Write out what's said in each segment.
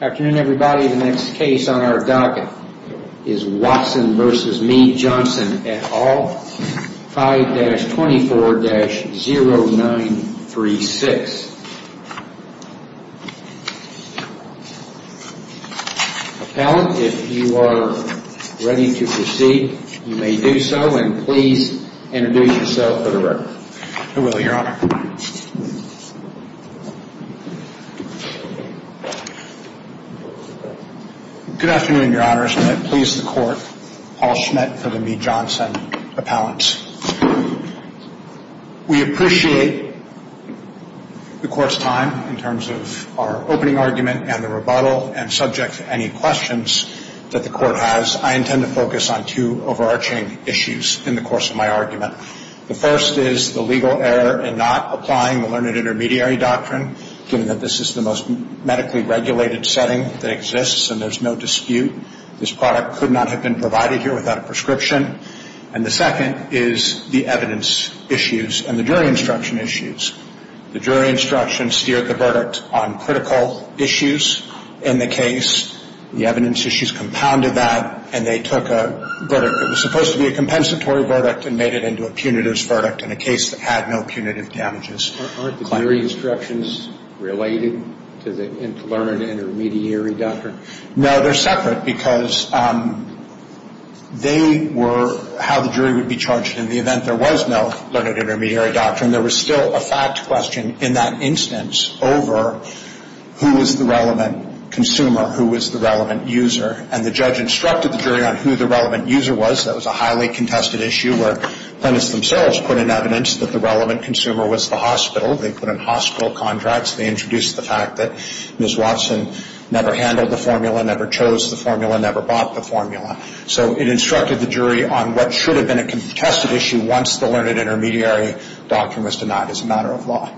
Afternoon everybody, the next case on our docket is Watson v. Mead Johnson et al., 5-24-0936. Appellant, if you are ready to proceed, you may do so, and please introduce yourself for the record. I will, Your Honor. Good afternoon, Your Honors. May it please the Court, Paul Schmitt for the Mead Johnson appellants. We appreciate the Court's time in terms of our opening argument and the rebuttal, and subject to any questions that the Court has, I intend to focus on two overarching issues in the course of my argument. The first is the legal error in not applying the learned intermediary doctrine, given that this is the most medically regulated setting that exists and there's no dispute. This product could not have been provided here without a prescription. And the second is the evidence issues and the jury instruction issues. The jury instruction steered the verdict on critical issues in the case. The evidence issues compounded that, and they took a verdict that was supposed to be a compensatory verdict and made it into a punitive verdict in a case that had no punitive damages. Aren't the jury instructions related to the learned intermediary doctrine? No, they're separate because they were how the jury would be charged in the event there was no learned intermediary doctrine. And there was still a fact question in that instance over who was the relevant consumer, who was the relevant user. And the judge instructed the jury on who the relevant user was. That was a highly contested issue where plaintiffs themselves put in evidence that the relevant consumer was the hospital. They put in hospital contracts. They introduced the fact that Ms. Watson never handled the formula, never chose the formula, never bought the formula. So it instructed the jury on what should have been a contested issue once the learned intermediary doctrine was denied as a matter of law.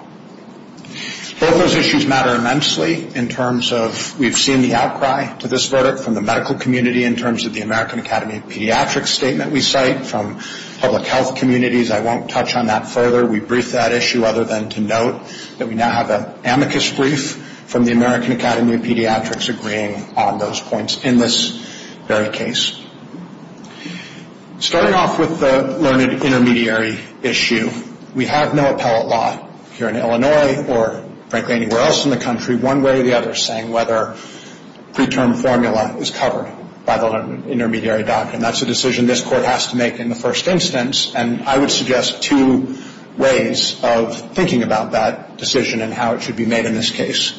Both those issues matter immensely in terms of we've seen the outcry to this verdict from the medical community in terms of the American Academy of Pediatrics statement we cite from public health communities. I won't touch on that further. We briefed that issue other than to note that we now have an amicus brief from the American Academy of Pediatrics agreeing on those points in this very case. Starting off with the learned intermediary issue, we have no appellate law here in Illinois or frankly anywhere else in the country, one way or the other, saying whether preterm formula is covered by the learned intermediary doctrine. That's a decision this Court has to make in the first instance. And I would suggest two ways of thinking about that decision and how it should be made in this case.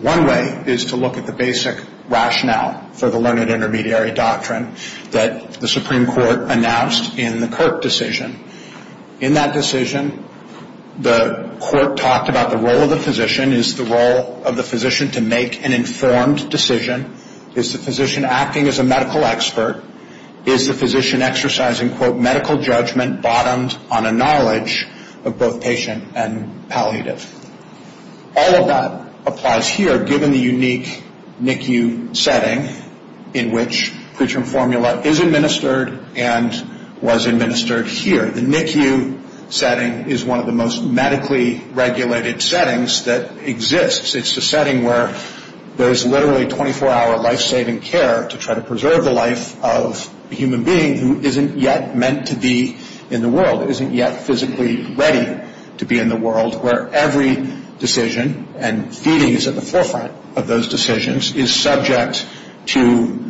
One way is to look at the basic rationale for the learned intermediary doctrine that the Supreme Court announced in the Kirk decision. In that decision, the Court talked about the role of the physician. Is the role of the physician to make an informed decision? Is the physician acting as a medical expert? Is the physician exercising, quote, medical judgment bottomed on a knowledge of both patient and palliative? All of that applies here given the unique NICU setting in which preterm formula is administered and was administered here. The NICU setting is one of the most medically regulated settings that exists. It's the setting where there is literally 24-hour life-saving care to try to preserve the life of a human being who isn't yet meant to be in the world, isn't yet physically ready to be in the world, where every decision and feeding is at the forefront of those decisions, is subject to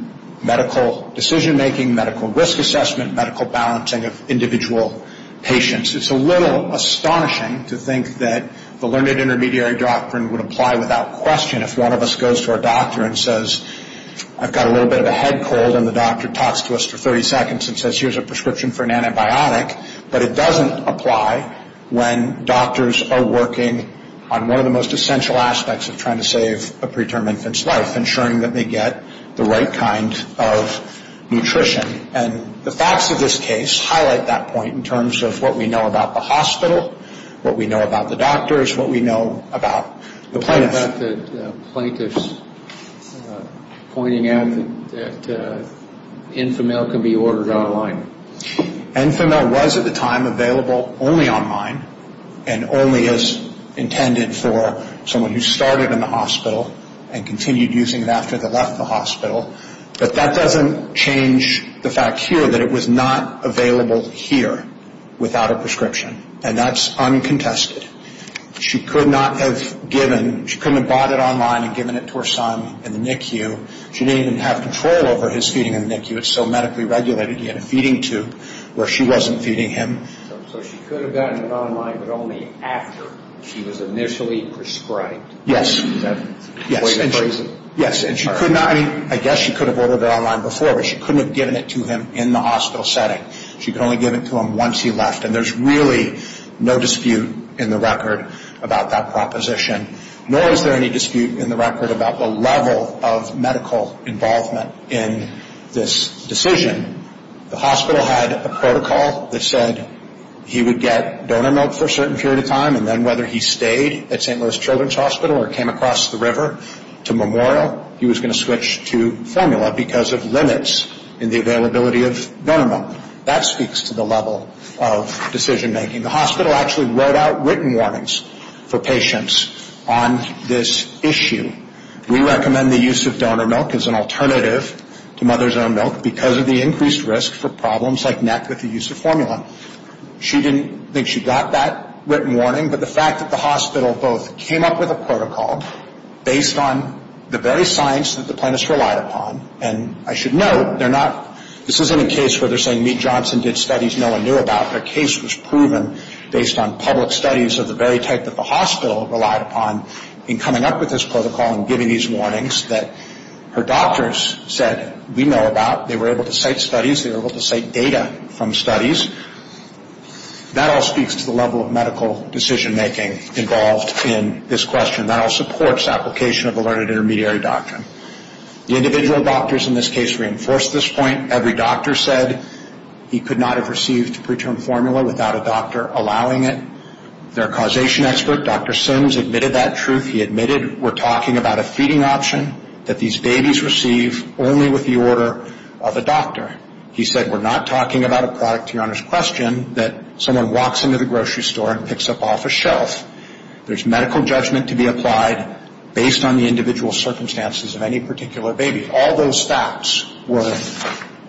medical decision-making, medical risk assessment, medical balancing of individual patients. It's a little astonishing to think that the learned intermediary doctrine would apply without question if one of us goes to our doctor and says, I've got a little bit of a head cold, and the doctor talks to us for 30 seconds and says, here's a prescription for an antibiotic. But it doesn't apply when doctors are working on one of the most essential aspects of trying to save a preterm infant's life, ensuring that they get the right kind of nutrition. And the facts of this case highlight that point in terms of what we know about the hospital, what we know about the doctors, what we know about the plaintiffs. Pointing out that Infomil can be ordered online. Infomil was at the time available only online and only as intended for someone who started in the hospital and continued using it after they left the hospital. But that doesn't change the fact here that it was not available here without a prescription. And that's uncontested. She could not have given, she couldn't have bought it online and given it to her son in the NICU. She didn't even have control over his feeding in the NICU. It's so medically regulated, he had a feeding tube where she wasn't feeding him. So she could have gotten it online but only after she was initially prescribed. Yes, yes. And she could not, I mean, I guess she could have ordered it online before, but she couldn't have given it to him in the hospital setting. She could only give it to him once he left. And there's really no dispute in the record about that proposition. Nor is there any dispute in the record about the level of medical involvement in this decision. The hospital had a protocol that said he would get donor milk for a certain period of time and then whether he stayed at St. Louis Children's Hospital or came across the river to Memorial, he was going to switch to Formula because of limits in the availability of donor milk. That speaks to the level of decision making. The hospital actually wrote out written warnings for patients on this issue. We recommend the use of donor milk as an alternative to mother's own milk because of the increased risk for problems like neck with the use of formula. She didn't think she got that written warning, but the fact that the hospital both came up with a protocol based on the very science that the plaintiffs relied upon, and I should note, this isn't a case where they're saying Meet Johnson did studies no one knew about. Their case was proven based on public studies of the very type that the hospital relied upon in coming up with this protocol and giving these warnings that her doctors said we know about. They were able to cite studies. They were able to cite data from studies. That all speaks to the level of medical decision making involved in this question. That all supports application of alerted intermediary doctrine. The individual doctors in this case reinforced this point. Every doctor said he could not have received preterm formula without a doctor allowing it. Their causation expert, Dr. Sims, admitted that truth. He admitted we're talking about a feeding option that these babies receive only with the order of a doctor. He said we're not talking about a product to your Honor's question that someone walks into the grocery store and picks up off a shelf. There's medical judgment to be applied based on the individual circumstances of any particular baby. All those facts were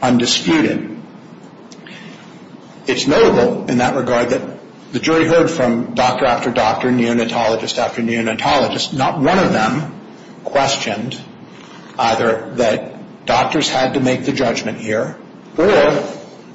undisputed. It's notable in that regard that the jury heard from doctor after doctor, neonatologist after neonatologist. Not one of them questioned either that doctors had to make the judgment here or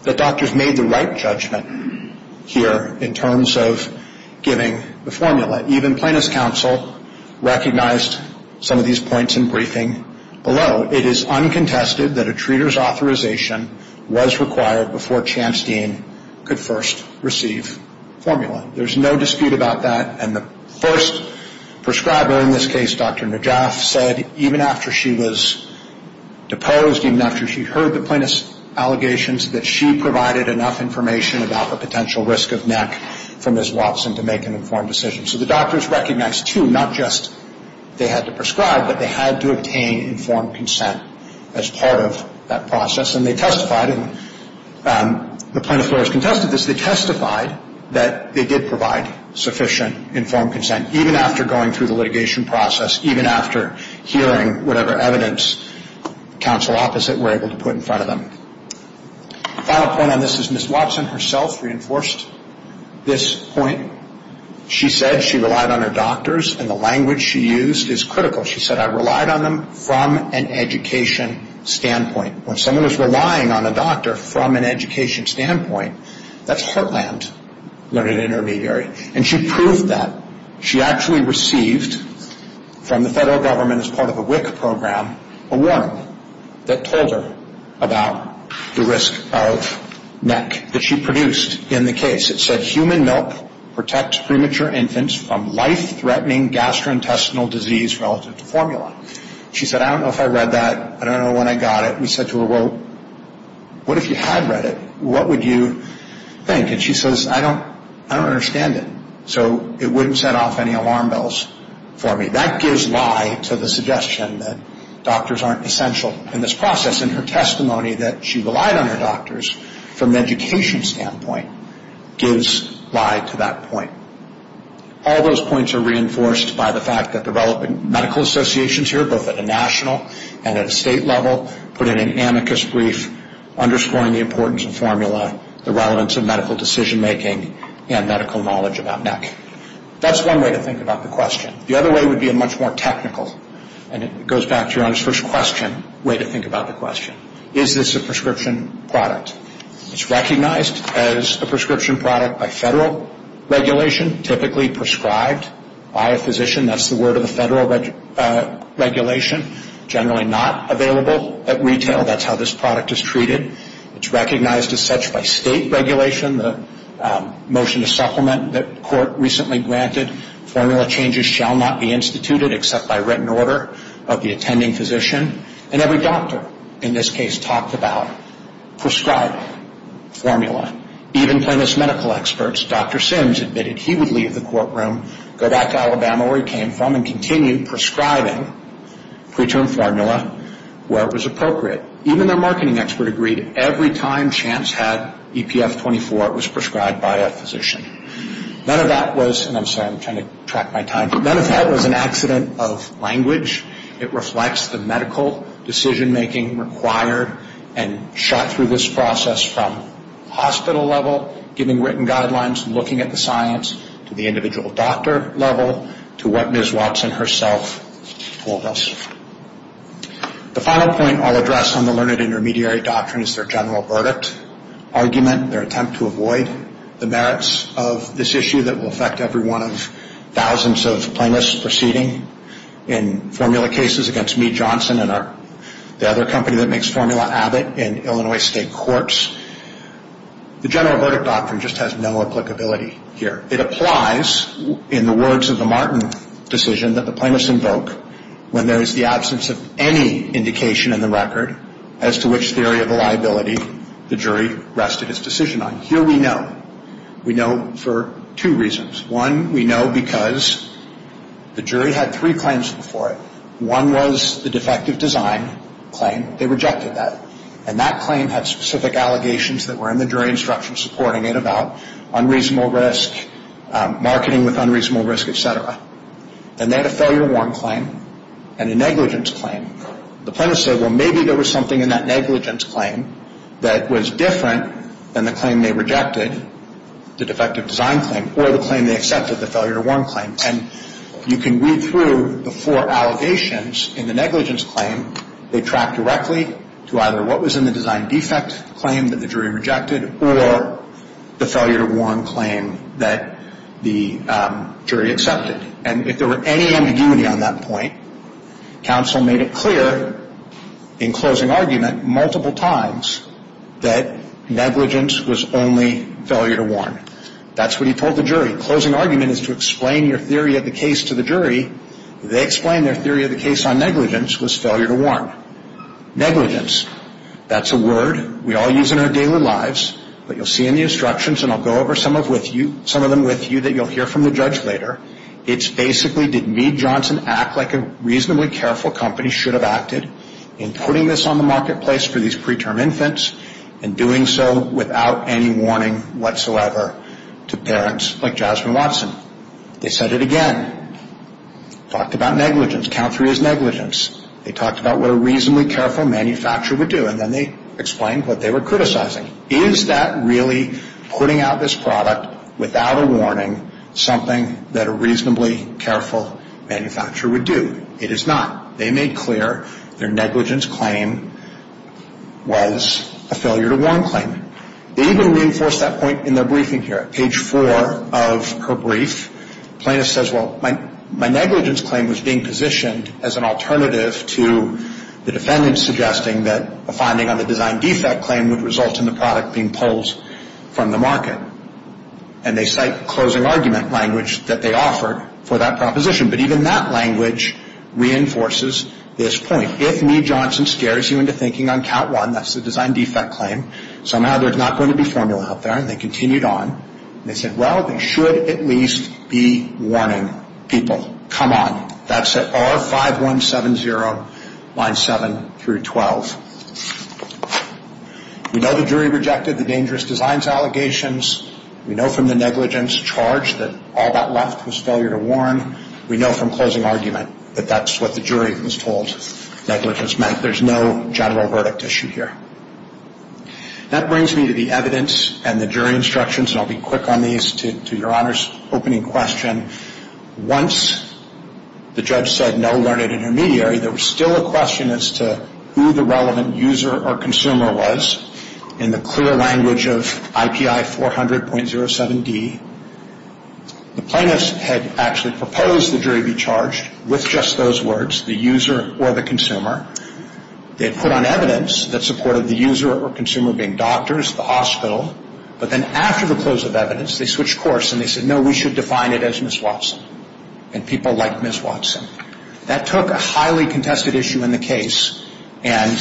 that doctors made the right judgment here in terms of giving the formula. Even plaintiff's counsel recognized some of these points in briefing below. It is uncontested that a treater's authorization was required before Chance Dean could first receive formula. There's no dispute about that. And the first prescriber in this case, Dr. Najaf, said even after she was deposed, even after she heard the plaintiff's allegations, that she provided enough information about the potential risk of neck for Ms. Watson to make an informed decision. So the doctors recognized, too, not just they had to prescribe, but they had to obtain informed consent as part of that process. And they testified, and the plaintiff's lawyers contested this, they testified that they did provide sufficient informed consent, even after going through the litigation process, even after hearing whatever evidence counsel opposite were able to put in front of them. The final point on this is Ms. Watson herself reinforced this point. She said she relied on her doctors, and the language she used is critical. She said, I relied on them from an education standpoint. When someone is relying on a doctor from an education standpoint, that's heartland learned intermediary. And she proved that. She actually received from the federal government as part of a WIC program a warning that told her about the risk of neck that she produced in the case. It said, human milk protects premature infants from life-threatening gastrointestinal disease relative to formula. She said, I don't know if I read that. I don't know when I got it. We said to her, well, what if you had read it? What would you think? And she says, I don't understand it. So it wouldn't set off any alarm bells for me. That gives lie to the suggestion that doctors aren't essential in this process. And her testimony that she relied on her doctors from an education standpoint gives lie to that point. All those points are reinforced by the fact that the relevant medical associations here, both at a national and at a state level, put in an amicus brief underscoring the importance of formula, the relevance of medical decision-making, and medical knowledge about neck. That's one way to think about the question. The other way would be a much more technical, and it goes back to your first question, way to think about the question. Is this a prescription product? It's recognized as a prescription product by federal regulation, typically prescribed by a physician. That's the word of the federal regulation. Generally not available at retail. That's how this product is treated. It's recognized as such by state regulation, the motion to supplement that court recently granted. Formula changes shall not be instituted except by written order of the attending physician. And every doctor in this case talked about prescribing formula. Even plaintiff's medical experts, Dr. Sims, admitted he would leave the courtroom, go back to Alabama where he came from, and continue prescribing preterm formula where it was appropriate. Even their marketing expert agreed every time Chance had EPF 24, it was prescribed by a physician. None of that was, and I'm sorry, I'm trying to track my time. None of that was an accident of language. It reflects the medical decision-making required and shot through this process from hospital level, giving written guidelines, looking at the science, to the individual doctor level, to what Ms. Watson herself told us. The final point I'll address on the learned intermediary doctrine is their general verdict argument, their attempt to avoid the merits of this issue that will affect every one of thousands of plaintiffs proceeding in formula cases against me, Johnson, and the other company that makes formula, Abbott, in Illinois state courts. The general verdict doctrine just has no applicability here. It applies in the words of the Martin decision that the plaintiffs invoke when there is the absence of any indication in the record as to which theory of liability the jury rested its decision on. Here we know. We know for two reasons. One, we know because the jury had three claims before it. One was the defective design claim. They rejected that, and that claim had specific allegations that were in the jury instruction supporting it about unreasonable risk, marketing with unreasonable risk, et cetera. And they had a failure to warn claim and a negligence claim. The plaintiffs said, well, maybe there was something in that negligence claim that was different than the claim they rejected, the defective design claim, or the claim they accepted, the failure to warn claim. And you can read through the four allegations in the negligence claim. They track directly to either what was in the design defect claim that the jury rejected or the failure to warn claim that the jury accepted. And if there were any ambiguity on that point, counsel made it clear in closing argument multiple times that negligence was only failure to warn. That's what he told the jury. Closing argument is to explain your theory of the case to the jury. They explained their theory of the case on negligence was failure to warn. Negligence, that's a word we all use in our daily lives, but you'll see in the instructions, and I'll go over some of them with you that you'll hear from the judge later. It's basically did Meade Johnson act like a reasonably careful company should have acted in putting this on the marketplace for these preterm infants and doing so without any warning whatsoever to parents like Jasmine Watson? They said it again. Talked about negligence. Count three is negligence. They talked about what a reasonably careful manufacturer would do, and then they explained what they were criticizing. Is that really putting out this product without a warning something that a reasonably careful manufacturer would do? It is not. They made clear their negligence claim was a failure to warn claim. They even reinforced that point in their briefing here. Page four of her brief, Plaintiff says, well, my negligence claim was being positioned as an alternative to the defendant suggesting that a finding on the design defect claim would result in the product being pulled from the market. And they cite closing argument language that they offered for that proposition. But even that language reinforces this point. If Meade Johnson scares you into thinking on count one, that's the design defect claim, somehow there's not going to be formula out there. And they continued on. They said, well, they should at least be warning people. Come on. That's at R5170, lines 7 through 12. We know the jury rejected the dangerous designs allegations. We know from the negligence charge that all that left was failure to warn. We know from closing argument that that's what the jury was told negligence meant. There's no general verdict issue here. That brings me to the evidence and the jury instructions, and I'll be quick on these to Your Honor's opening question. Once the judge said no learned intermediary, there was still a question as to who the relevant user or consumer was. In the clear language of IPI 400.07D, the plaintiffs had actually proposed the jury be charged with just those words, the user or the consumer. They had put on evidence that supported the user or consumer being doctors, the hospital. But then after the close of evidence, they switched course and they said, no, we should define it as Ms. Watson and people like Ms. Watson. That took a highly contested issue in the case and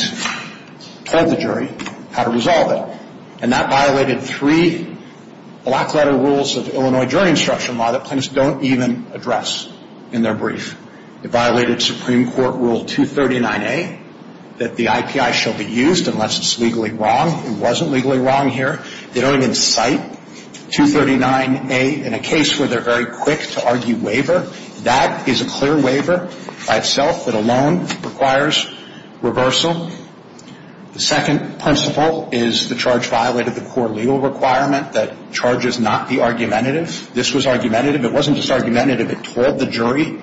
told the jury how to resolve it. And that violated three black letter rules of Illinois jury instruction law that plaintiffs don't even address in their brief. It violated Supreme Court Rule 239A that the IPI shall be used unless it's legally wrong. It wasn't legally wrong here. They don't even cite 239A in a case where they're very quick to argue waiver. That is a clear waiver by itself that alone requires reversal. The second principle is the charge violated the core legal requirement that charges not be argumentative. This was argumentative. It wasn't just argumentative. It told the jury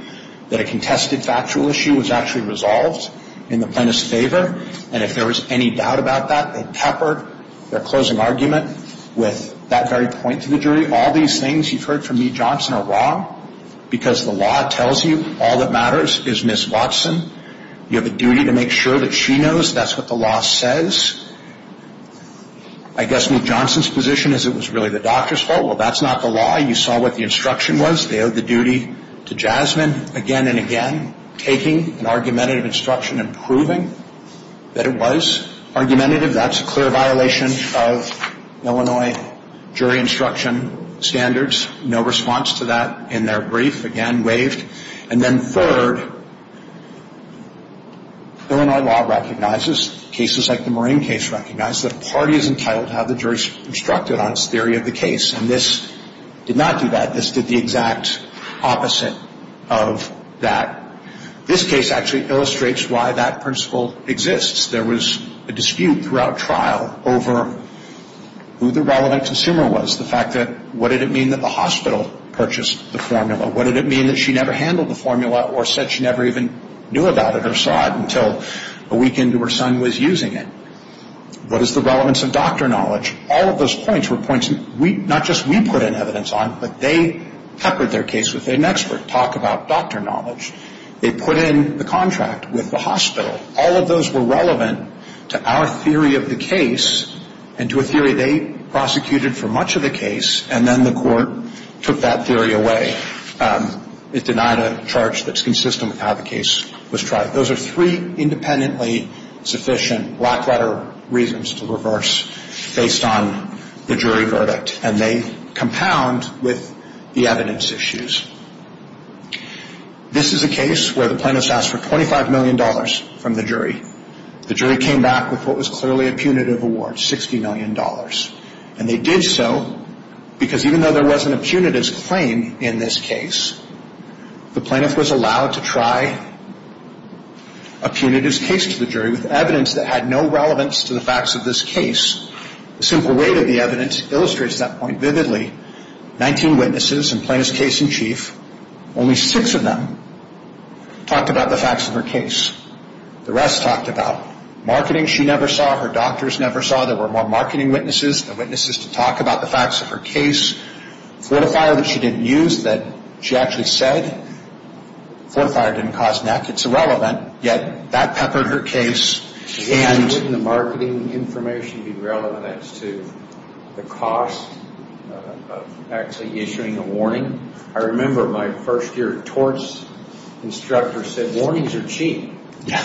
that a contested factual issue was actually resolved in the plaintiff's favor. And if there was any doubt about that, they peppered their closing argument with that very point to the jury. All these things you've heard from Meade-Johnson are wrong because the law tells you all that matters is Ms. Watson. You have a duty to make sure that she knows that's what the law says. I guess Meade-Johnson's position is it was really the doctor's fault. Well, that's not the law. You saw what the instruction was. They owed the duty to Jasmine again and again, taking an argumentative instruction and proving that it was argumentative. That's a clear violation of Illinois jury instruction standards. No response to that in their brief. Again, waived. And then third, Illinois law recognizes, cases like the Marine case recognize, that a party is entitled to have the jury instructed on its theory of the case. And this did not do that. This did the exact opposite of that. This case actually illustrates why that principle exists. There was a dispute throughout trial over who the relevant consumer was, the fact that what did it mean that the hospital purchased the formula? What did it mean that she never handled the formula or said she never even knew about it or saw it until a week into her son was using it? What is the relevance of doctor knowledge? All of those points were points not just we put in evidence on, but they peppered their case with an expert talk about doctor knowledge. They put in the contract with the hospital. All of those were relevant to our theory of the case and to a theory they prosecuted for much of the case, and then the court took that theory away. It denied a charge that's consistent with how the case was tried. Those are three independently sufficient black-letter reasons to reverse based on the jury verdict, and they compound with the evidence issues. This is a case where the plaintiffs asked for $25 million from the jury. The jury came back with what was clearly a punitive award, $60 million. And they did so because even though there wasn't a punitive claim in this case, the plaintiff was allowed to try a punitive case to the jury with evidence that had no relevance to the facts of this case. The simple weight of the evidence illustrates that point vividly. Nineteen witnesses and plaintiff's case in chief, only six of them talked about the facts of her case. The rest talked about marketing she never saw, her doctors never saw. There were more marketing witnesses than witnesses to talk about the facts of her case. Fortifier that she didn't use that she actually said. Fortifier didn't cause neck. It's irrelevant. Yet, that peppered her case. Wouldn't the marketing information be relevant as to the cost of actually issuing a warning? I remember my first year torts instructor said, warnings are cheap. Yeah.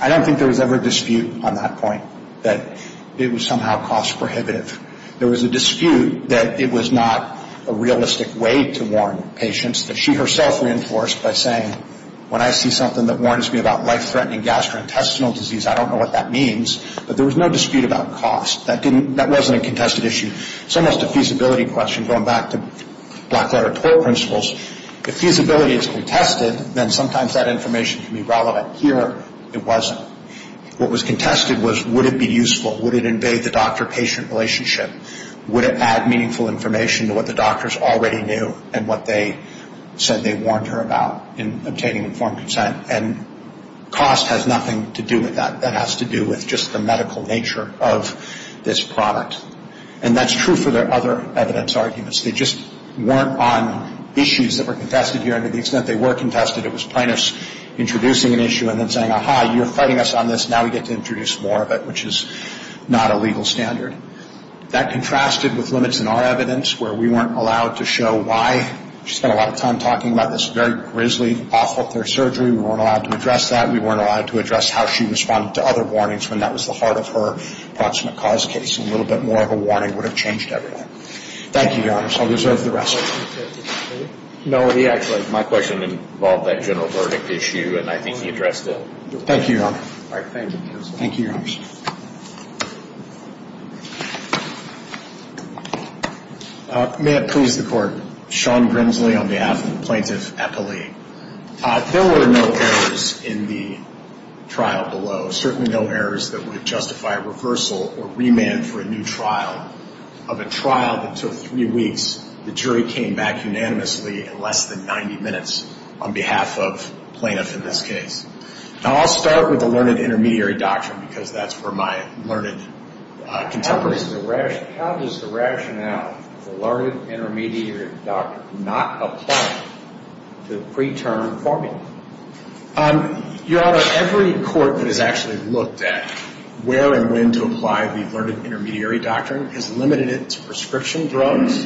I don't think there was ever a dispute on that point that it was somehow cost prohibitive. There was a dispute that it was not a realistic way to warn patients that she herself reinforced by saying, when I see something that warns me about life-threatening gastrointestinal disease, I don't know what that means. But there was no dispute about cost. That wasn't a contested issue. It's almost a feasibility question, going back to black-letter tort principles. If feasibility is contested, then sometimes that information can be relevant. Here, it wasn't. What was contested was, would it be useful? Would it invade the doctor-patient relationship? Would it add meaningful information to what the doctors already knew and what they said they warned her about in obtaining informed consent? And cost has nothing to do with that. That has to do with just the medical nature of this product. And that's true for the other evidence arguments. They just weren't on issues that were contested here, and to the extent they were contested, it was plaintiffs introducing an issue and then saying, Aha, you're fighting us on this, now we get to introduce more of it, which is not a legal standard. That contrasted with limits in our evidence where we weren't allowed to show why. She spent a lot of time talking about this very grisly off of her surgery. We weren't allowed to address that. We weren't allowed to address how she responded to other warnings when that was the heart of her approximate cause case. A little bit more of a warning would have changed everything. Thank you, Your Honors. I'll reserve the rest. My question involved that general verdict issue, and I think he addressed it. Thank you, Your Honor. All right, thank you. Thank you, Your Honors. May it please the Court. Sean Grimsley on behalf of Plaintiff Eppley. There were no errors in the trial below, certainly no errors that would justify a reversal or remand for a new trial. Of a trial that took three weeks, the jury came back unanimously in less than 90 minutes on behalf of plaintiff in this case. Now, I'll start with the learned intermediary doctrine because that's where my learned contemporaries are. How does the rationale for learned intermediary doctrine not apply to the preterm formula? Your Honor, every court that has actually looked at where and when to apply the learned intermediary doctrine has limited it to prescription drugs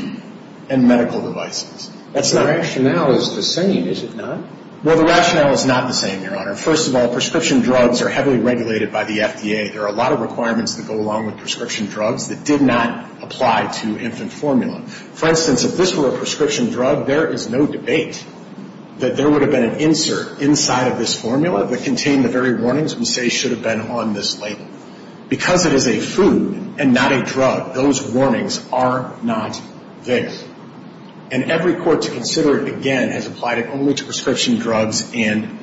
and medical devices. The rationale is the same, is it not? Well, the rationale is not the same, Your Honor. First of all, prescription drugs are heavily regulated by the FDA. There are a lot of requirements that go along with prescription drugs that did not apply to infant formula. For instance, if this were a prescription drug, there is no debate that there would have been an insert inside of this formula that contained the very warnings we say should have been on this label. Because it is a food and not a drug, those warnings are not there. And every court to consider it again has applied it only to prescription drugs and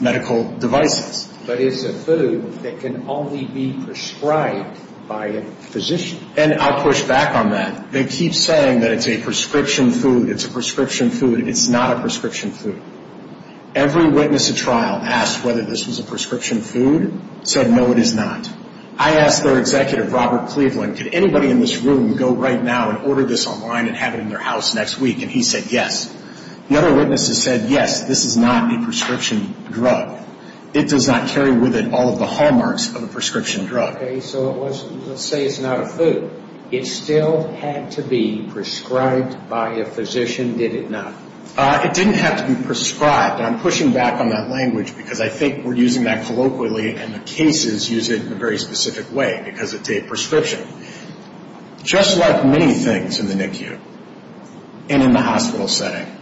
medical devices. But it's a food that can only be prescribed by a physician. And I'll push back on that. They keep saying that it's a prescription food, it's a prescription food, it's not a prescription food. Every witness at trial asked whether this was a prescription food, said no, it is not. I asked their executive, Robert Cleveland, could anybody in this room go right now and order this online and have it in their house next week? And he said yes. The other witnesses said yes, this is not a prescription drug. It does not carry with it all of the hallmarks of a prescription drug. Okay, so let's say it's not a food. It still had to be prescribed by a physician, did it not? It didn't have to be prescribed. And I'm pushing back on that language because I think we're using that colloquially and the cases use it in a very specific way because it's a prescription. Just like many things in the NICU and in the hospital setting,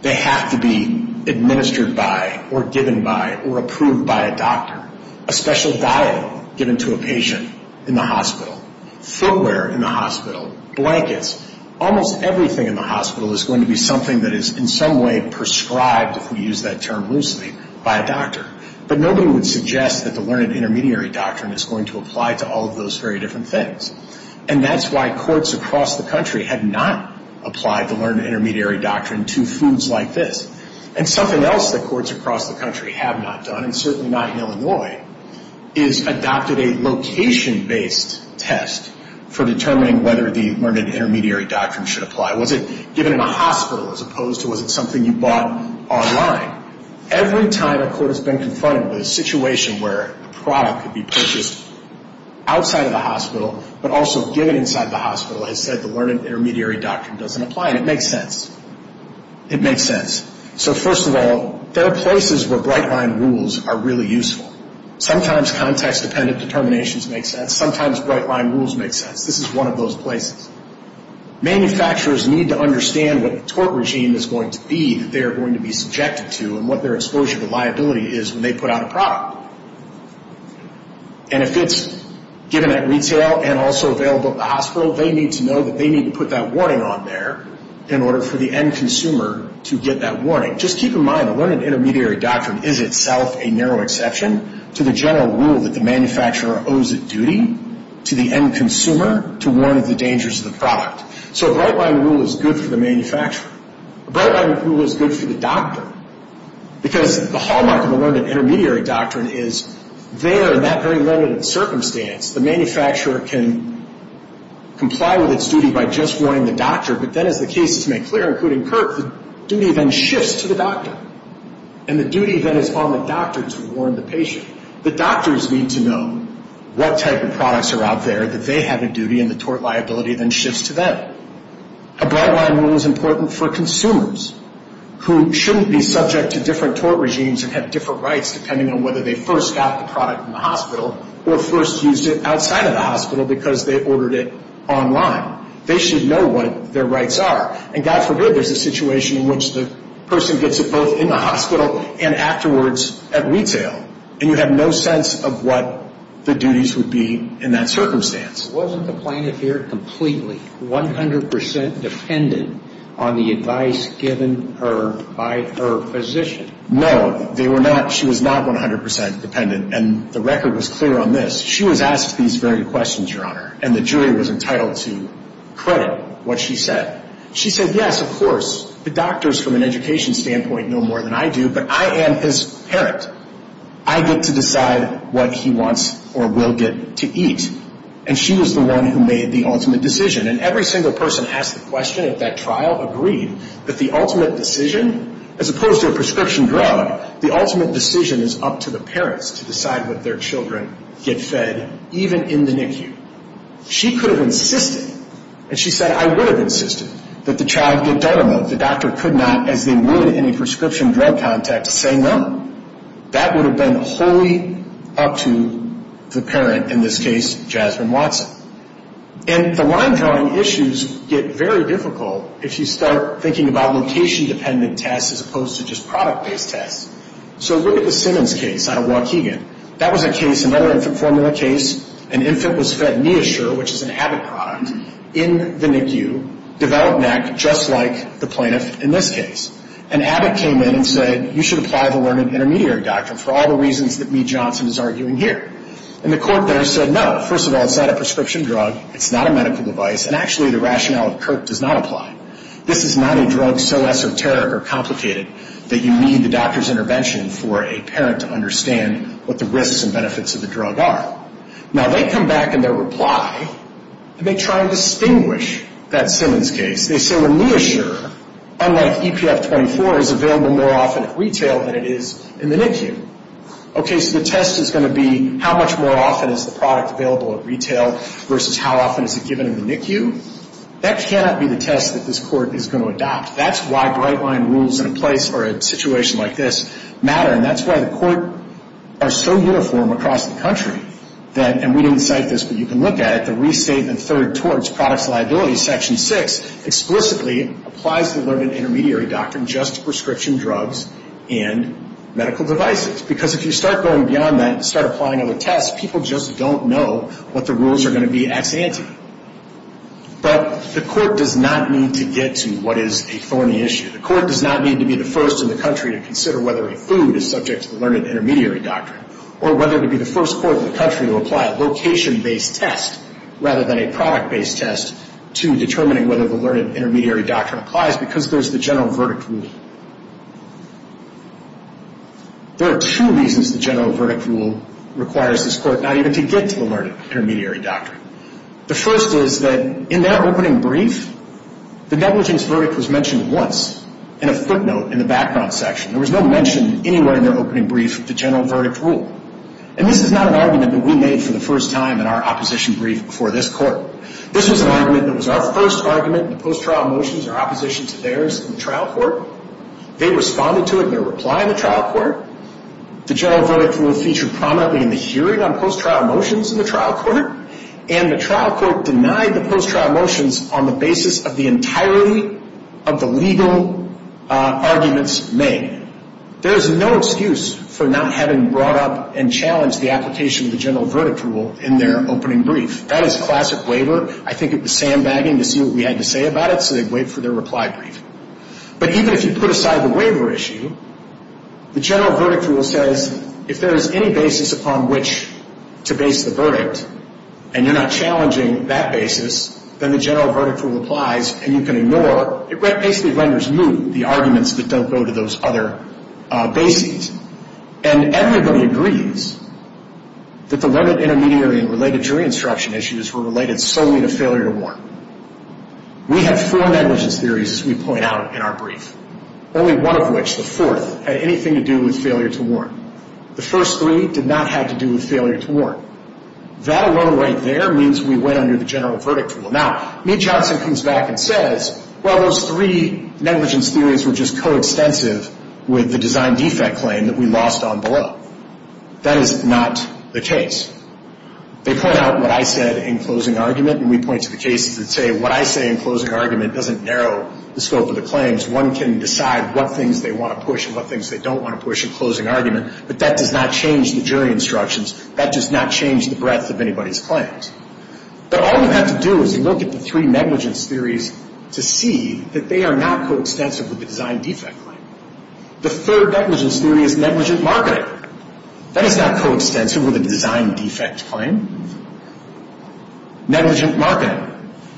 they have to be administered by or given by or approved by a doctor. A special diet given to a patient in the hospital, footwear in the hospital, blankets, almost everything in the hospital is going to be something that is in some way prescribed, if we use that term loosely, by a doctor. But nobody would suggest that the learned intermediary doctrine is going to apply to all of those very different things. And that's why courts across the country have not applied the learned intermediary doctrine to foods like this. And something else that courts across the country have not done, and certainly not in Illinois, is adopted a location-based test for determining whether the learned intermediary doctrine should apply. Was it given in a hospital as opposed to was it something you bought online? Every time a court has been confronted with a situation where a product could be purchased outside of the hospital, but also given inside the hospital, has said the learned intermediary doctrine doesn't apply. And it makes sense. It makes sense. So first of all, there are places where bright-line rules are really useful. Sometimes context-dependent determinations make sense. Sometimes bright-line rules make sense. This is one of those places. Manufacturers need to understand what the tort regime is going to be that they are going to be subjected to and what their exposure to liability is when they put out a product. And if it's given at retail and also available at the hospital, they need to know that they need to put that warning on there in order for the end consumer to get that warning. Just keep in mind, a learned intermediary doctrine is itself a narrow exception to the general rule that the manufacturer owes it duty to the end consumer to warn of the dangers of the product. So a bright-line rule is good for the manufacturer. A bright-line rule is good for the doctor. Because the hallmark of a learned intermediary doctrine is there in that very limited circumstance, the manufacturer can comply with its duty by just warning the doctor, but then as the cases make clear, including Kirk, the duty then shifts to the doctor. And the duty then is on the doctor to warn the patient. The doctors need to know what type of products are out there that they have a duty, and the tort liability then shifts to them. A bright-line rule is important for consumers, who shouldn't be subject to different tort regimes and have different rights depending on whether they first got the product in the hospital or first used it outside of the hospital because they ordered it online. They should know what their rights are. And God forbid there's a situation in which the person gets it both in the hospital and afterwards at retail, and you have no sense of what the duties would be in that circumstance. Wasn't the plaintiff here completely, 100% dependent on the advice given her by her physician? No, they were not. She was not 100% dependent, and the record was clear on this. She was asked these very questions, Your Honor, and the jury was entitled to credit what she said. She said, yes, of course, the doctors from an education standpoint know more than I do, but I am his parent. I get to decide what he wants or will get to eat. And she was the one who made the ultimate decision. And every single person asked the question at that trial agreed that the ultimate decision, as opposed to a prescription drug, the ultimate decision is up to the parents to decide what their children get fed, even in the NICU. She could have insisted, and she said, I would have insisted, that the child get Derma. The doctor could not, as they would in a prescription drug context, say no. That would have been wholly up to the parent, in this case, Jasmine Watson. And the line-telling issues get very difficult if you start thinking about location-dependent tests as opposed to just product-based tests. So look at the Simmons case out of Waukegan. That was a case, another infant formula case. An infant was fed Neosur, which is an Abbott product, in the NICU, developed NAC, just like the plaintiff in this case. And Abbott came in and said, you should apply the learned intermediary doctrine for all the reasons that Mee Johnson is arguing here. And the court there said, no, first of all, it's not a prescription drug. It's not a medical device. And actually, the rationale of Kirk does not apply. This is not a drug so esoteric or complicated that you need the doctor's intervention for a parent to understand what the risks and benefits of the drug are. Now, they come back in their reply, and they try and distinguish that Simmons case. They say, well, Neosur, unlike EPF24, is available more often at retail than it is in the NICU. Okay, so the test is going to be how much more often is the product available at retail versus how often is it given in the NICU. That cannot be the test that this court is going to adopt. That's why bright-line rules in a place or a situation like this matter, and that's why the court are so uniform across the country that, and we didn't cite this, but you can look at it, the Restate and Third Towards Products Liability, Section 6, explicitly applies the learned intermediary doctrine just to prescription drugs and medical devices because if you start going beyond that and start applying other tests, people just don't know what the rules are going to be ex ante. But the court does not need to get to what is a thorny issue. The court does not need to be the first in the country to consider whether a food is subject to the learned intermediary doctrine or whether to be the first court in the country to apply a location-based test rather than a product-based test to determining whether the learned intermediary doctrine applies because there's the general verdict rule. There are two reasons the general verdict rule requires this court not even to get to the learned intermediary doctrine. The first is that in their opening brief, the negligence verdict was mentioned once in a footnote in the background section. There was no mention anywhere in their opening brief of the general verdict rule, and this is not an argument that we made for the first time in our opposition brief before this court. This was an argument that was our first argument in the post-trial motions, our opposition to theirs in the trial court. They responded to it in their reply in the trial court. The general verdict rule featured prominently in the hearing on post-trial motions in the trial court, and the trial court denied the post-trial motions on the basis of the entirety of the legal arguments made. There is no excuse for not having brought up and challenged the application of the general verdict rule in their opening brief. That is classic waiver. I think it was sandbagging to see what we had to say about it, so they wait for their reply brief. But even if you put aside the waiver issue, the general verdict rule says if there is any basis upon which to base the verdict and you're not challenging that basis, then the general verdict rule applies and you can ignore. It basically renders moot the arguments that don't go to those other bases. And everybody agrees that the limited intermediary and related jury instruction issues were related solely to failure to warn. We have four negligence theories, as we point out in our brief, only one of which, the fourth, had anything to do with failure to warn. The first three did not have to do with failure to warn. That alone right there means we went under the general verdict rule. Now, Mee Johnson comes back and says, well, those three negligence theories were just coextensive with the design defect claim that we lost on below. That is not the case. They point out what I said in closing argument, and we point to the cases that say what I say in closing argument doesn't narrow the scope of the claims. One can decide what things they want to push and what things they don't want to push in closing argument, but that does not change the jury instructions. That does not change the breadth of anybody's claims. But all you have to do is look at the three negligence theories to see that they are not coextensive with the design defect claim. The third negligence theory is negligent marketing. That is not coextensive with a design defect claim. Negligent marketing.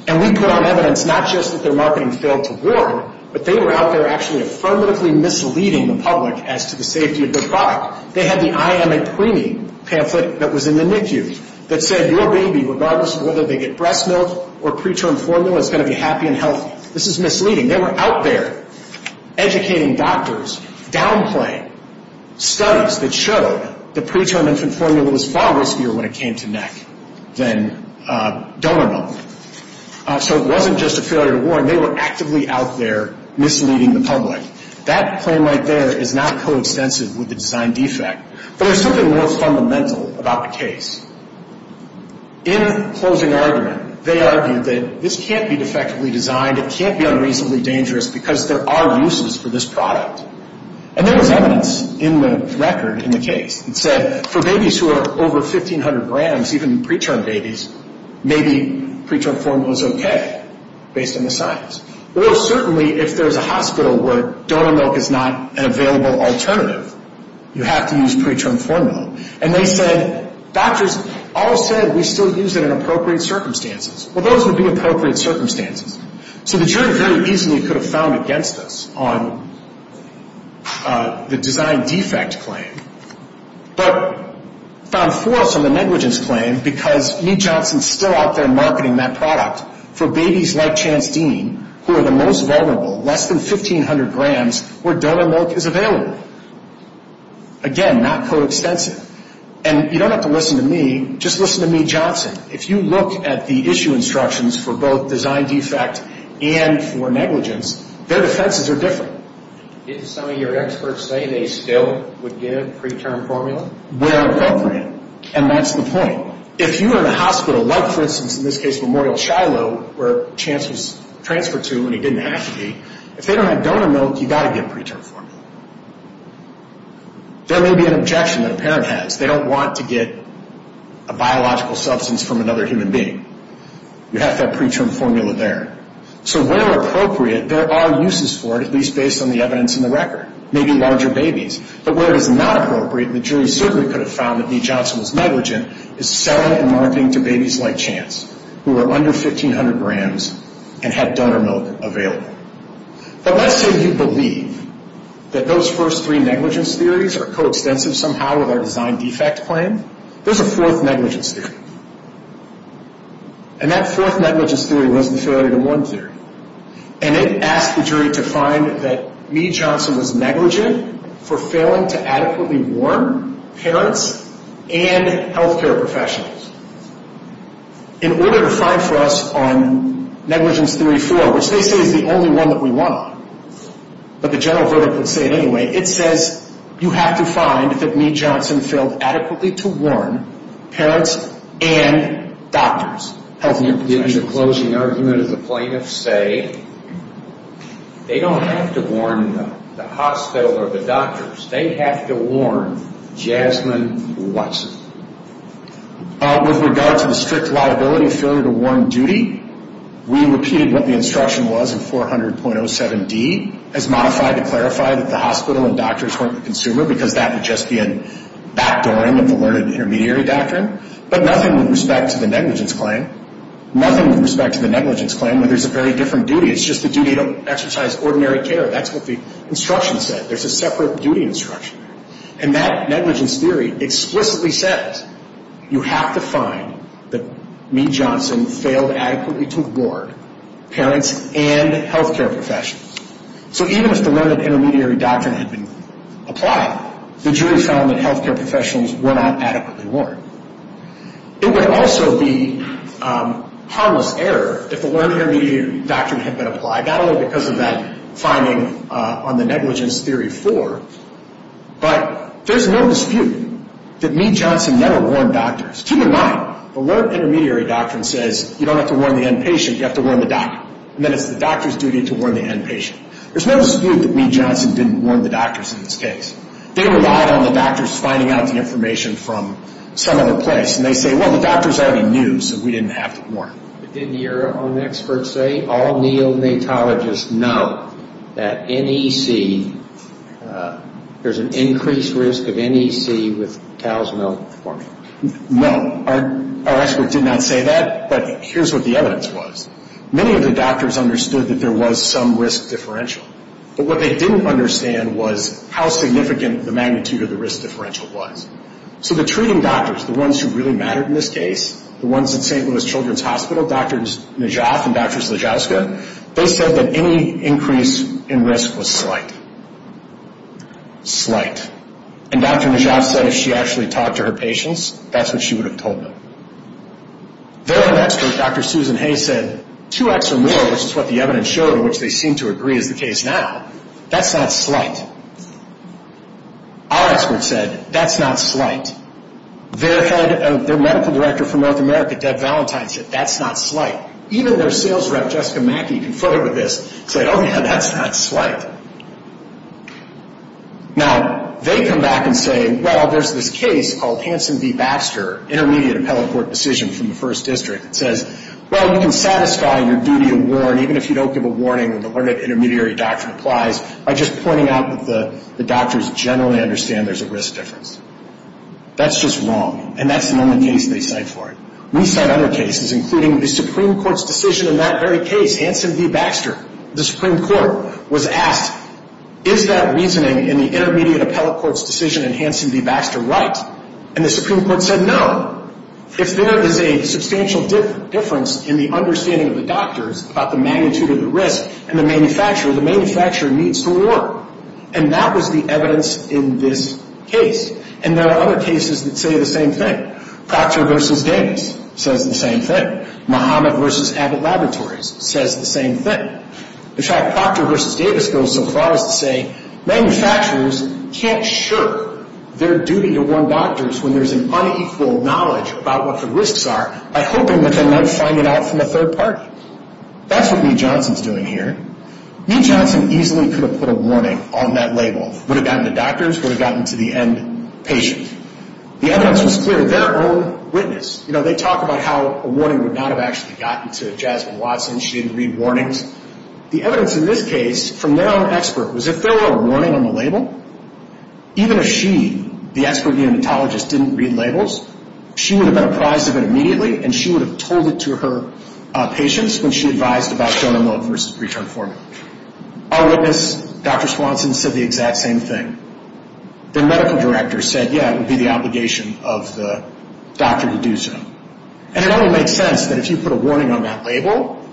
And we put on evidence not just that their marketing failed to warn, but they were out there actually affirmatively misleading the public as to the safety of the product. They had the I am a preemie pamphlet that was in the NICU that said your baby, regardless of whether they get breast milk or preterm formula, is going to be happy and healthy. This is misleading. They were out there educating doctors, downplaying studies that showed the preterm infant formula was far riskier when it came to neck than donor bone. So it wasn't just a failure to warn. They were actively out there misleading the public. That claim right there is not coextensive with the design defect. But there is something more fundamental about the case. In closing argument, they argued that this can't be defectively designed. It can't be unreasonably dangerous because there are uses for this product. And there was evidence in the record in the case that said for babies who are over 1,500 grams, even preterm babies, maybe preterm formula is okay based on the science. Or certainly if there's a hospital where donor milk is not an available alternative, you have to use preterm formula. And they said doctors all said we still use it in appropriate circumstances. Well, those would be appropriate circumstances. So the jury very easily could have found against us on the design defect claim. But found for us on the negligence claim because Meat Johnson is still out there marketing that product for babies like Chance Dean who are the most vulnerable, less than 1,500 grams, where donor milk is available. Again, not coextensive. And you don't have to listen to me. Just listen to Meat Johnson. If you look at the issue instructions for both design defect and for negligence, their defenses are different. Didn't some of your experts say they still would give preterm formula? Where appropriate. And that's the point. If you are in a hospital like, for instance, in this case Memorial Shiloh where Chance was transferred to when he didn't have to be, if they don't have donor milk, you've got to give preterm formula. There may be an objection that a parent has. They don't want to get a biological substance from another human being. You have to have preterm formula there. So where appropriate, there are uses for it, at least based on the evidence in the record. Maybe larger babies. But where it is not appropriate, and the jury certainly could have found that Meat Johnson was negligent, is selling and marketing to babies like Chance who are under 1,500 grams and had donor milk available. But let's say you believe that those first three negligence theories are coextensive somehow with our design defect claim. There's a fourth negligence theory. And that fourth negligence theory was the failure to warn theory. And it asked the jury to find that Meat Johnson was negligent for failing to adequately warn parents and health care professionals. In order to find for us on negligence theory four, which they say is the only one that we want, but the general verdict would say it anyway. It says you have to find that Meat Johnson failed adequately to warn parents and doctors, health care professionals. In the closing argument, the plaintiffs say they don't have to warn the hospital or the doctors. They have to warn Jasmine Watson. With regard to the strict liability failure to warn duty, we repeated what the instruction was in 400.07D as modified to clarify that the hospital and doctors weren't the consumer because that would just be a backdooring of the learned intermediary doctrine. But nothing with respect to the negligence claim. Nothing with respect to the negligence claim where there's a very different duty. It's just the duty to exercise ordinary care. That's what the instruction said. There's a separate duty instruction. And that negligence theory explicitly says you have to find that Meat Johnson failed adequately to warn parents and health care professionals. So even if the learned intermediary doctrine had been applied, the jury found that health care professionals were not adequately warned. It would also be harmless error if the learned intermediary doctrine had been applied, not only because of that finding on the negligence theory four, but there's no dispute that Meat Johnson never warned doctors. Keep in mind, the learned intermediary doctrine says you don't have to warn the inpatient, you have to warn the doctor. And then it's the doctor's duty to warn the inpatient. There's no dispute that Meat Johnson didn't warn the doctors in this case. They relied on the doctors finding out the information from some other place. And they say, well, the doctors already knew, so we didn't have to warn them. But didn't your own experts say all neonatologists know that NEC, there's an increased risk of NEC with cow's milk forming? No. Our expert did not say that, but here's what the evidence was. Many of the doctors understood that there was some risk differential, but what they didn't understand was how significant the magnitude of the risk differential was. So the treating doctors, the ones who really mattered in this case, the ones at St. Louis Children's Hospital, Drs. Najaf and Drs. Lajowska, they said that any increase in risk was slight. Slight. And Dr. Najaf said if she actually talked to her patients, that's what she would have told them. Their own expert, Dr. Susan Hayes, said two X or more, which is what the evidence showed and which they seem to agree is the case now, that's not slight. Our expert said that's not slight. Their medical director from North America, Deb Valentine, said that's not slight. Even their sales rep, Jessica Mackey, confronted with this, said, oh, yeah, that's not slight. Now, they come back and say, well, there's this case called Hansen v. Baxter, intermediate appellate court decision from the first district, that says, well, you can satisfy your duty to warn even if you don't give a warning when the learned intermediary doctrine applies by just pointing out that the doctors generally understand there's a risk difference. That's just wrong, and that's the only case they cite for it. We cite other cases, including the Supreme Court's decision in that very case, Hansen v. Baxter. The Supreme Court was asked, is that reasoning in the intermediate appellate court's decision in Hansen v. Baxter right? And the Supreme Court said no. If there is a substantial difference in the understanding of the doctors about the magnitude of the risk, and the manufacturer, the manufacturer needs to warn. And that was the evidence in this case. And there are other cases that say the same thing. Proctor v. Davis says the same thing. Mohammed v. Abbott Laboratories says the same thing. In fact, Proctor v. Davis goes so far as to say manufacturers can't shirk their duty to warn doctors when there's an unequal knowledge about what the risks are by hoping that they might find it out from a third party. That's what Mee Johnson's doing here. Mee Johnson easily could have put a warning on that label. Would have gotten the doctors, would have gotten to the end patient. The evidence was clear. You know, they talk about how a warning would not have actually gotten to Jasmine Watson. She didn't read warnings. The evidence in this case from their own expert was if there were a warning on the label, even if she, the expert neonatologist, didn't read labels, she would have been apprised of it immediately and she would have told it to her patients when she advised about donor mode versus return formula. Our witness, Dr. Swanson, said the exact same thing. Their medical director said, yeah, it would be the obligation of the doctor to do so. And it only makes sense that if you put a warning on that label,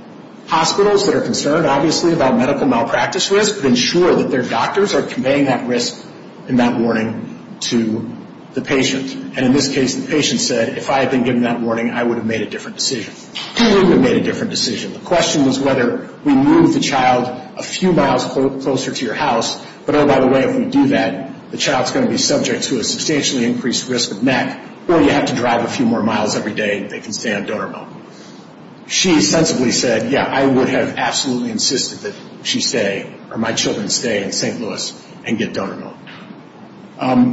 hospitals that are concerned, obviously, about medical malpractice risk, would ensure that their doctors are conveying that risk and that warning to the patient. And in this case, the patient said, if I had been given that warning, I would have made a different decision. He wouldn't have made a different decision. The question was whether we move the child a few miles closer to your house, but, oh, by the way, if we do that, the child's going to be subject to a substantially increased risk of neck or you have to drive a few more miles every day and they can stay on donor mode. She sensibly said, yeah, I would have absolutely insisted that she stay or my children stay in St. Louis and get donor mode.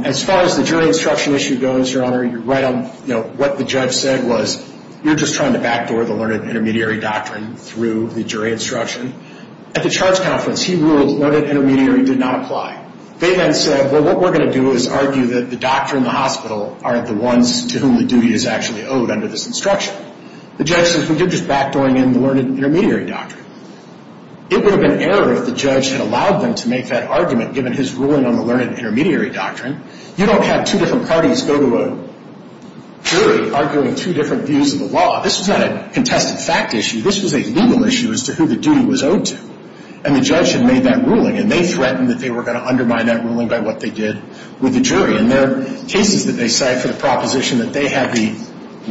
As far as the jury instruction issue goes, Your Honor, you're right on, you know, what the judge said was you're just trying to backdoor the learned intermediary doctrine through the jury instruction. At the charge conference, he ruled learned intermediary did not apply. They then said, well, what we're going to do is argue that the doctor and the hospital aren't the ones to whom the duty is actually owed under this instruction. The judge says we did just backdooring in the learned intermediary doctrine. It would have been error if the judge had allowed them to make that argument, given his ruling on the learned intermediary doctrine. You don't have two different parties go to a jury arguing two different views of the law. This was not a contested fact issue. This was a legal issue as to who the duty was owed to. And the judge had made that ruling, and they threatened that they were going to undermine that ruling by what they did with the jury. And their cases that they cite for the proposition that they have the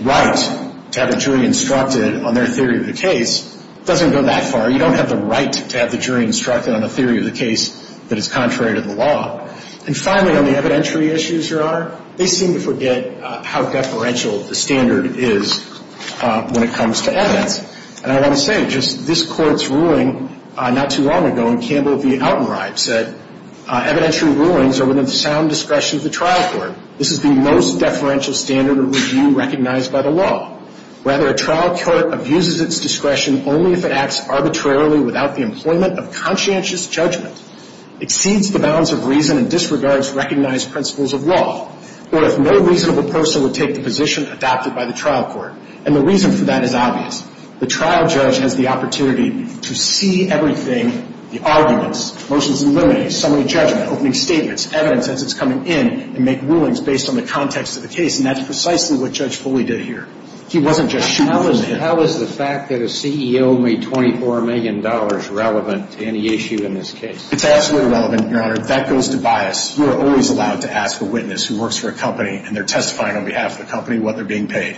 right to have a jury instructed on their theory of the case doesn't go that far. You don't have the right to have the jury instructed on a theory of the case that is contrary to the law. And finally, on the evidentiary issues, Your Honor, they seem to forget how deferential the standard is when it comes to evidence. And I want to say, just this Court's ruling not too long ago in Campbell v. Altenreib said, evidentiary rulings are within the sound discretion of the trial court. This is the most deferential standard of review recognized by the law. Rather, a trial court abuses its discretion only if it acts arbitrarily without the employment of conscientious judgment, exceeds the bounds of reason, and disregards recognized principles of law, or if no reasonable person would take the position adopted by the trial court. And the reason for that is obvious. The trial judge has the opportunity to see everything, the arguments, motions eliminated, summary judgment, opening statements, evidence as it's coming in, and make rulings based on the context of the case. And that's precisely what Judge Foley did here. He wasn't just shooting at it. How is the fact that a CEO made $24 million relevant to any issue in this case? It's absolutely relevant, Your Honor. That goes to bias. You are always allowed to ask a witness who works for a company and they're testifying on behalf of the company what they're being paid.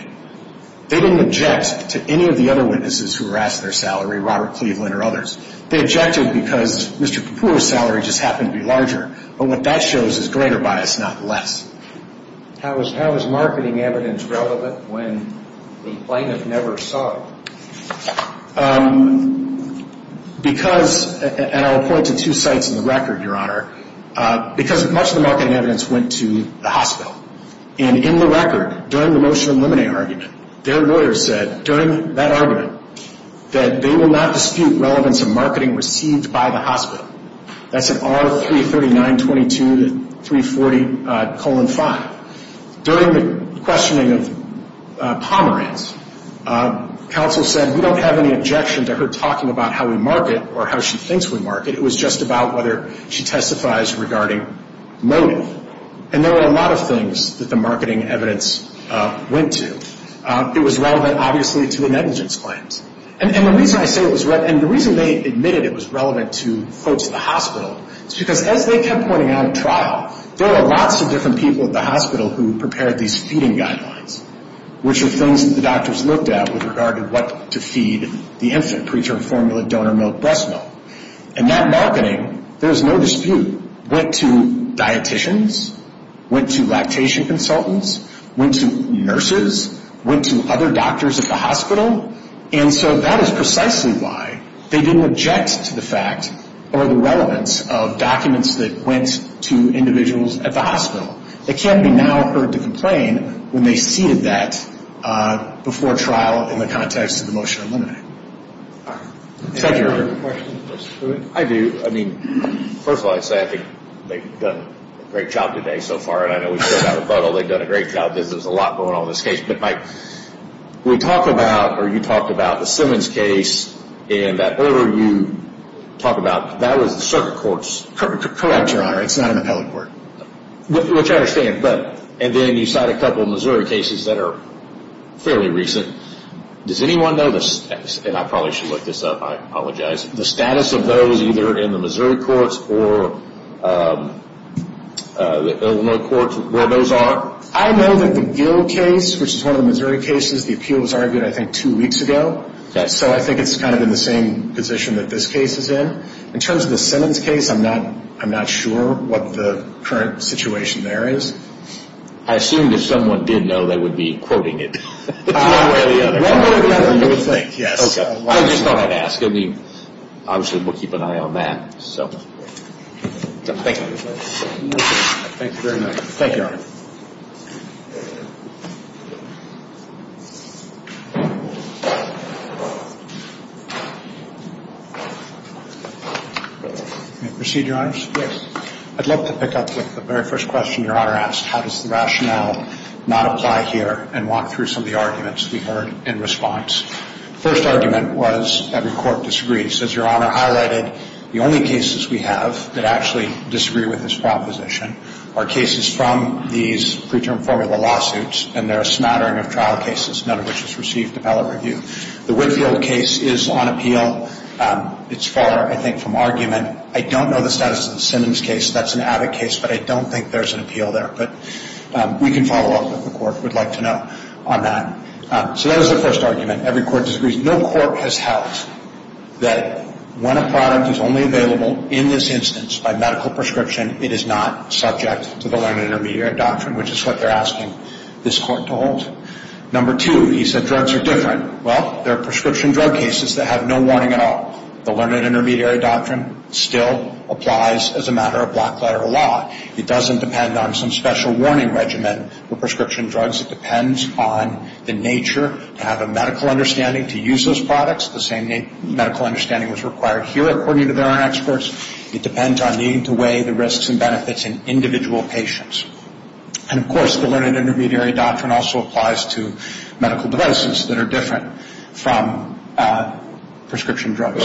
They didn't object to any of the other witnesses who were asked their salary, Robert Cleveland or others. They objected because Mr. Kapoor's salary just happened to be larger. But what that shows is greater bias, not less. How is marketing evidence relevant when the plaintiff never saw it? Because, and I'll point to two sites in the record, Your Honor, because much of the marketing evidence went to the hospital. And in the record, during the motion eliminate argument, their lawyer said during that argument that they will not dispute relevance of marketing received by the hospital. That's an R-33922-340-5. During the questioning of Pomerantz, counsel said, we don't have any objection to her talking about how we market or how she thinks we market. It was just about whether she testifies regarding motive. And there were a lot of things that the marketing evidence went to. It was relevant, obviously, to the negligence claims. And the reason I say it was relevant, and the reason they admitted it was relevant to folks at the hospital, is because as they kept pointing out at trial, there were lots of different people at the hospital who prepared these feeding guidelines, which are things that the doctors looked at with regard to what to feed the infant, preterm formula, donor milk, breast milk. And that marketing, there was no dispute, went to dietitians, went to lactation consultants, went to nurses, went to other doctors at the hospital. And so that is precisely why they didn't object to the fact or the relevance of documents that went to individuals at the hospital. It can't be now heard to complain when they ceded that before trial in the context of the motion to eliminate. Thank you, Your Honor. I do. I mean, first of all, I'd say I think they've done a great job today so far. They've done a great job. There's a lot going on in this case. But, Mike, we talk about, or you talk about the Simmons case, and that order you talk about, that was the circuit court's. Correct, Your Honor. It's not an appellate court. Which I understand. And then you cite a couple of Missouri cases that are fairly recent. Does anyone know, and I probably should look this up, I apologize, the status of those either in the Missouri courts or Illinois courts where those are? I know that the Gill case, which is one of the Missouri cases, the appeal was argued, I think, two weeks ago. So I think it's kind of in the same position that this case is in. In terms of the Simmons case, I'm not sure what the current situation there is. I assumed if someone did know, they would be quoting it. One way or the other, you would think, yes. I just thought I'd ask. Obviously, we'll keep an eye on that. Thank you. Thank you very much. Thank you, Your Honor. May I proceed, Your Honors? Yes. I'd love to pick up with the very first question Your Honor asked, how does the rationale not apply here and walk through some of the arguments we heard in response. The first argument was every court disagrees. As Your Honor highlighted, the only cases we have that actually disagree with this proposition are cases from these preterm formula lawsuits, and they're a smattering of trial cases, none of which has received appellate review. The Whitfield case is on appeal. It's far, I think, from argument. I don't know the status of the Simmons case. That's an avid case, but I don't think there's an appeal there. But we can follow up if the court would like to know on that. So that was the first argument, every court disagrees. No court has held that when a product is only available in this instance by medical prescription, it is not subject to the learned intermediary doctrine, which is what they're asking this court to hold. Number two, he said drugs are different. Well, there are prescription drug cases that have no warning at all. The learned intermediary doctrine still applies as a matter of black letter law. It doesn't depend on some special warning regimen for prescription drugs. It depends on the nature to have a medical understanding to use those products. The same medical understanding was required here according to their own experts. It depends on needing to weigh the risks and benefits in individual patients. And, of course, the learned intermediary doctrine also applies to medical devices that are different from prescription drugs.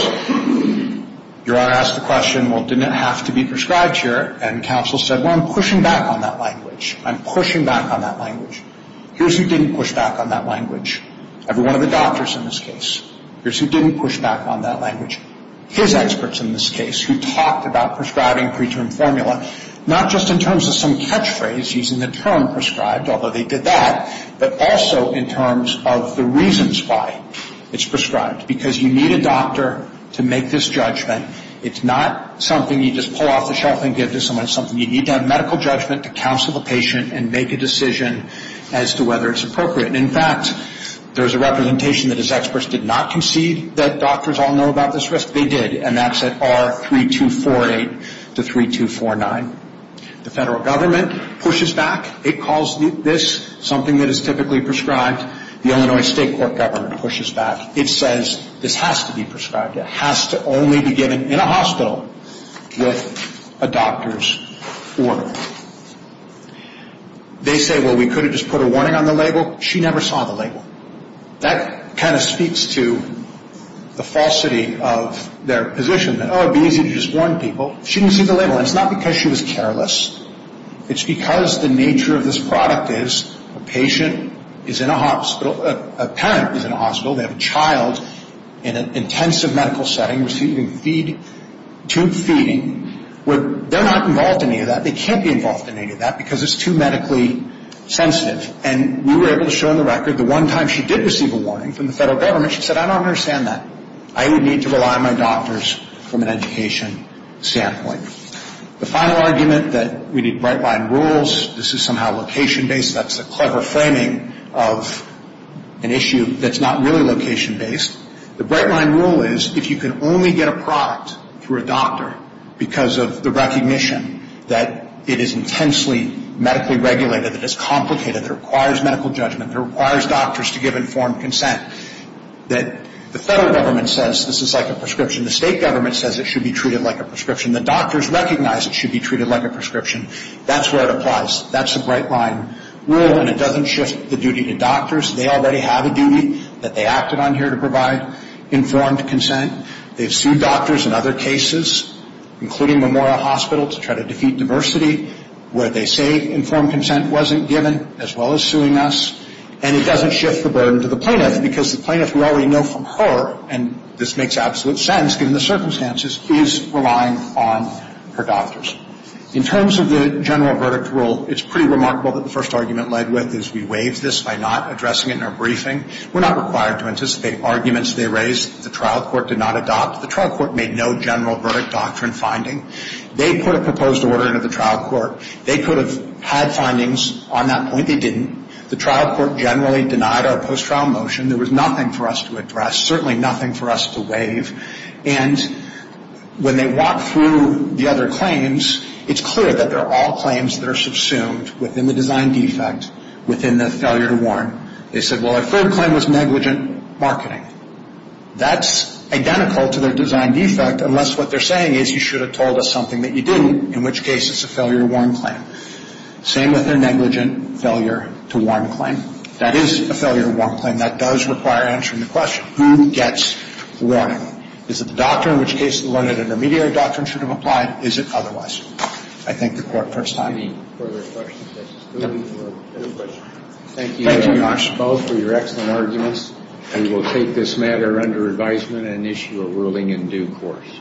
Your Honor asked the question, well, didn't it have to be prescribed here? And counsel said, well, I'm pushing back on that language. I'm pushing back on that language. Here's who didn't push back on that language. Every one of the doctors in this case. Here's who didn't push back on that language. His experts in this case who talked about prescribing preterm formula, not just in terms of some catchphrase using the term prescribed, although they did that, but also in terms of the reasons why it's prescribed. Because you need a doctor to make this judgment. It's not something you just pull off the shelf and give to someone. It's something you need to have medical judgment to counsel the patient and make a decision as to whether it's appropriate. And, in fact, there's a representation that his experts did not concede that doctors all know about this risk. They did, and that's at R3248 to 3249. The federal government pushes back. It calls this something that is typically prescribed. The Illinois State Court government pushes back. It says this has to be prescribed. It has to only be given in a hospital with a doctor's order. They say, well, we could have just put a warning on the label. She never saw the label. That kind of speaks to the falsity of their position that, oh, it would be easy to just warn people. She didn't see the label, and it's not because she was careless. It's because the nature of this product is a patient is in a hospital. A parent is in a hospital. They have a child in an intensive medical setting receiving tube feeding. They're not involved in any of that. They can't be involved in any of that because it's too medically sensitive. And we were able to show on the record the one time she did receive a warning from the federal government, she said, I don't understand that. I would need to rely on my doctors from an education standpoint. The final argument that we need right-line rules. This is somehow location-based. That's a clever framing of an issue that's not really location-based. The right-line rule is if you can only get a product through a doctor because of the recognition that it is intensely medically regulated, that it's complicated, that it requires medical judgment, that it requires doctors to give informed consent, that the federal government says this is like a prescription. The state government says it should be treated like a prescription. The doctors recognize it should be treated like a prescription. That's where it applies. That's the right-line rule, and it doesn't shift the duty to doctors. They already have a duty that they acted on here to provide informed consent. They've sued doctors in other cases, including Memorial Hospital, to try to defeat diversity, where they say informed consent wasn't given, as well as suing us. And it doesn't shift the burden to the plaintiff because the plaintiff, we already know from her, and this makes absolute sense given the circumstances, is relying on her doctors. In terms of the general verdict rule, it's pretty remarkable that the first argument led with is we waived this by not addressing it in our briefing. We're not required to anticipate arguments they raised that the trial court did not adopt. The trial court made no general verdict doctrine finding. They put a proposed order into the trial court. They could have had findings on that point. They didn't. The trial court generally denied our post-trial motion. There was nothing for us to address, certainly nothing for us to waive. And when they walk through the other claims, it's clear that they're all claims that are subsumed within the design defect, within the failure to warn. They said, well, our third claim was negligent marketing. That's identical to their design defect, unless what they're saying is you should have told us something that you didn't, in which case it's a failure to warn claim. Same with their negligent failure to warn claim. That is a failure to warn claim. And that does require answering the question. Who gets warning? Is it the doctor? In which case, the learned intermediary doctrine should have applied. Is it otherwise? I thank the court for its time. Any further questions? Thank you both for your excellent arguments. We will take this matter under advisement and issue a ruling in due course.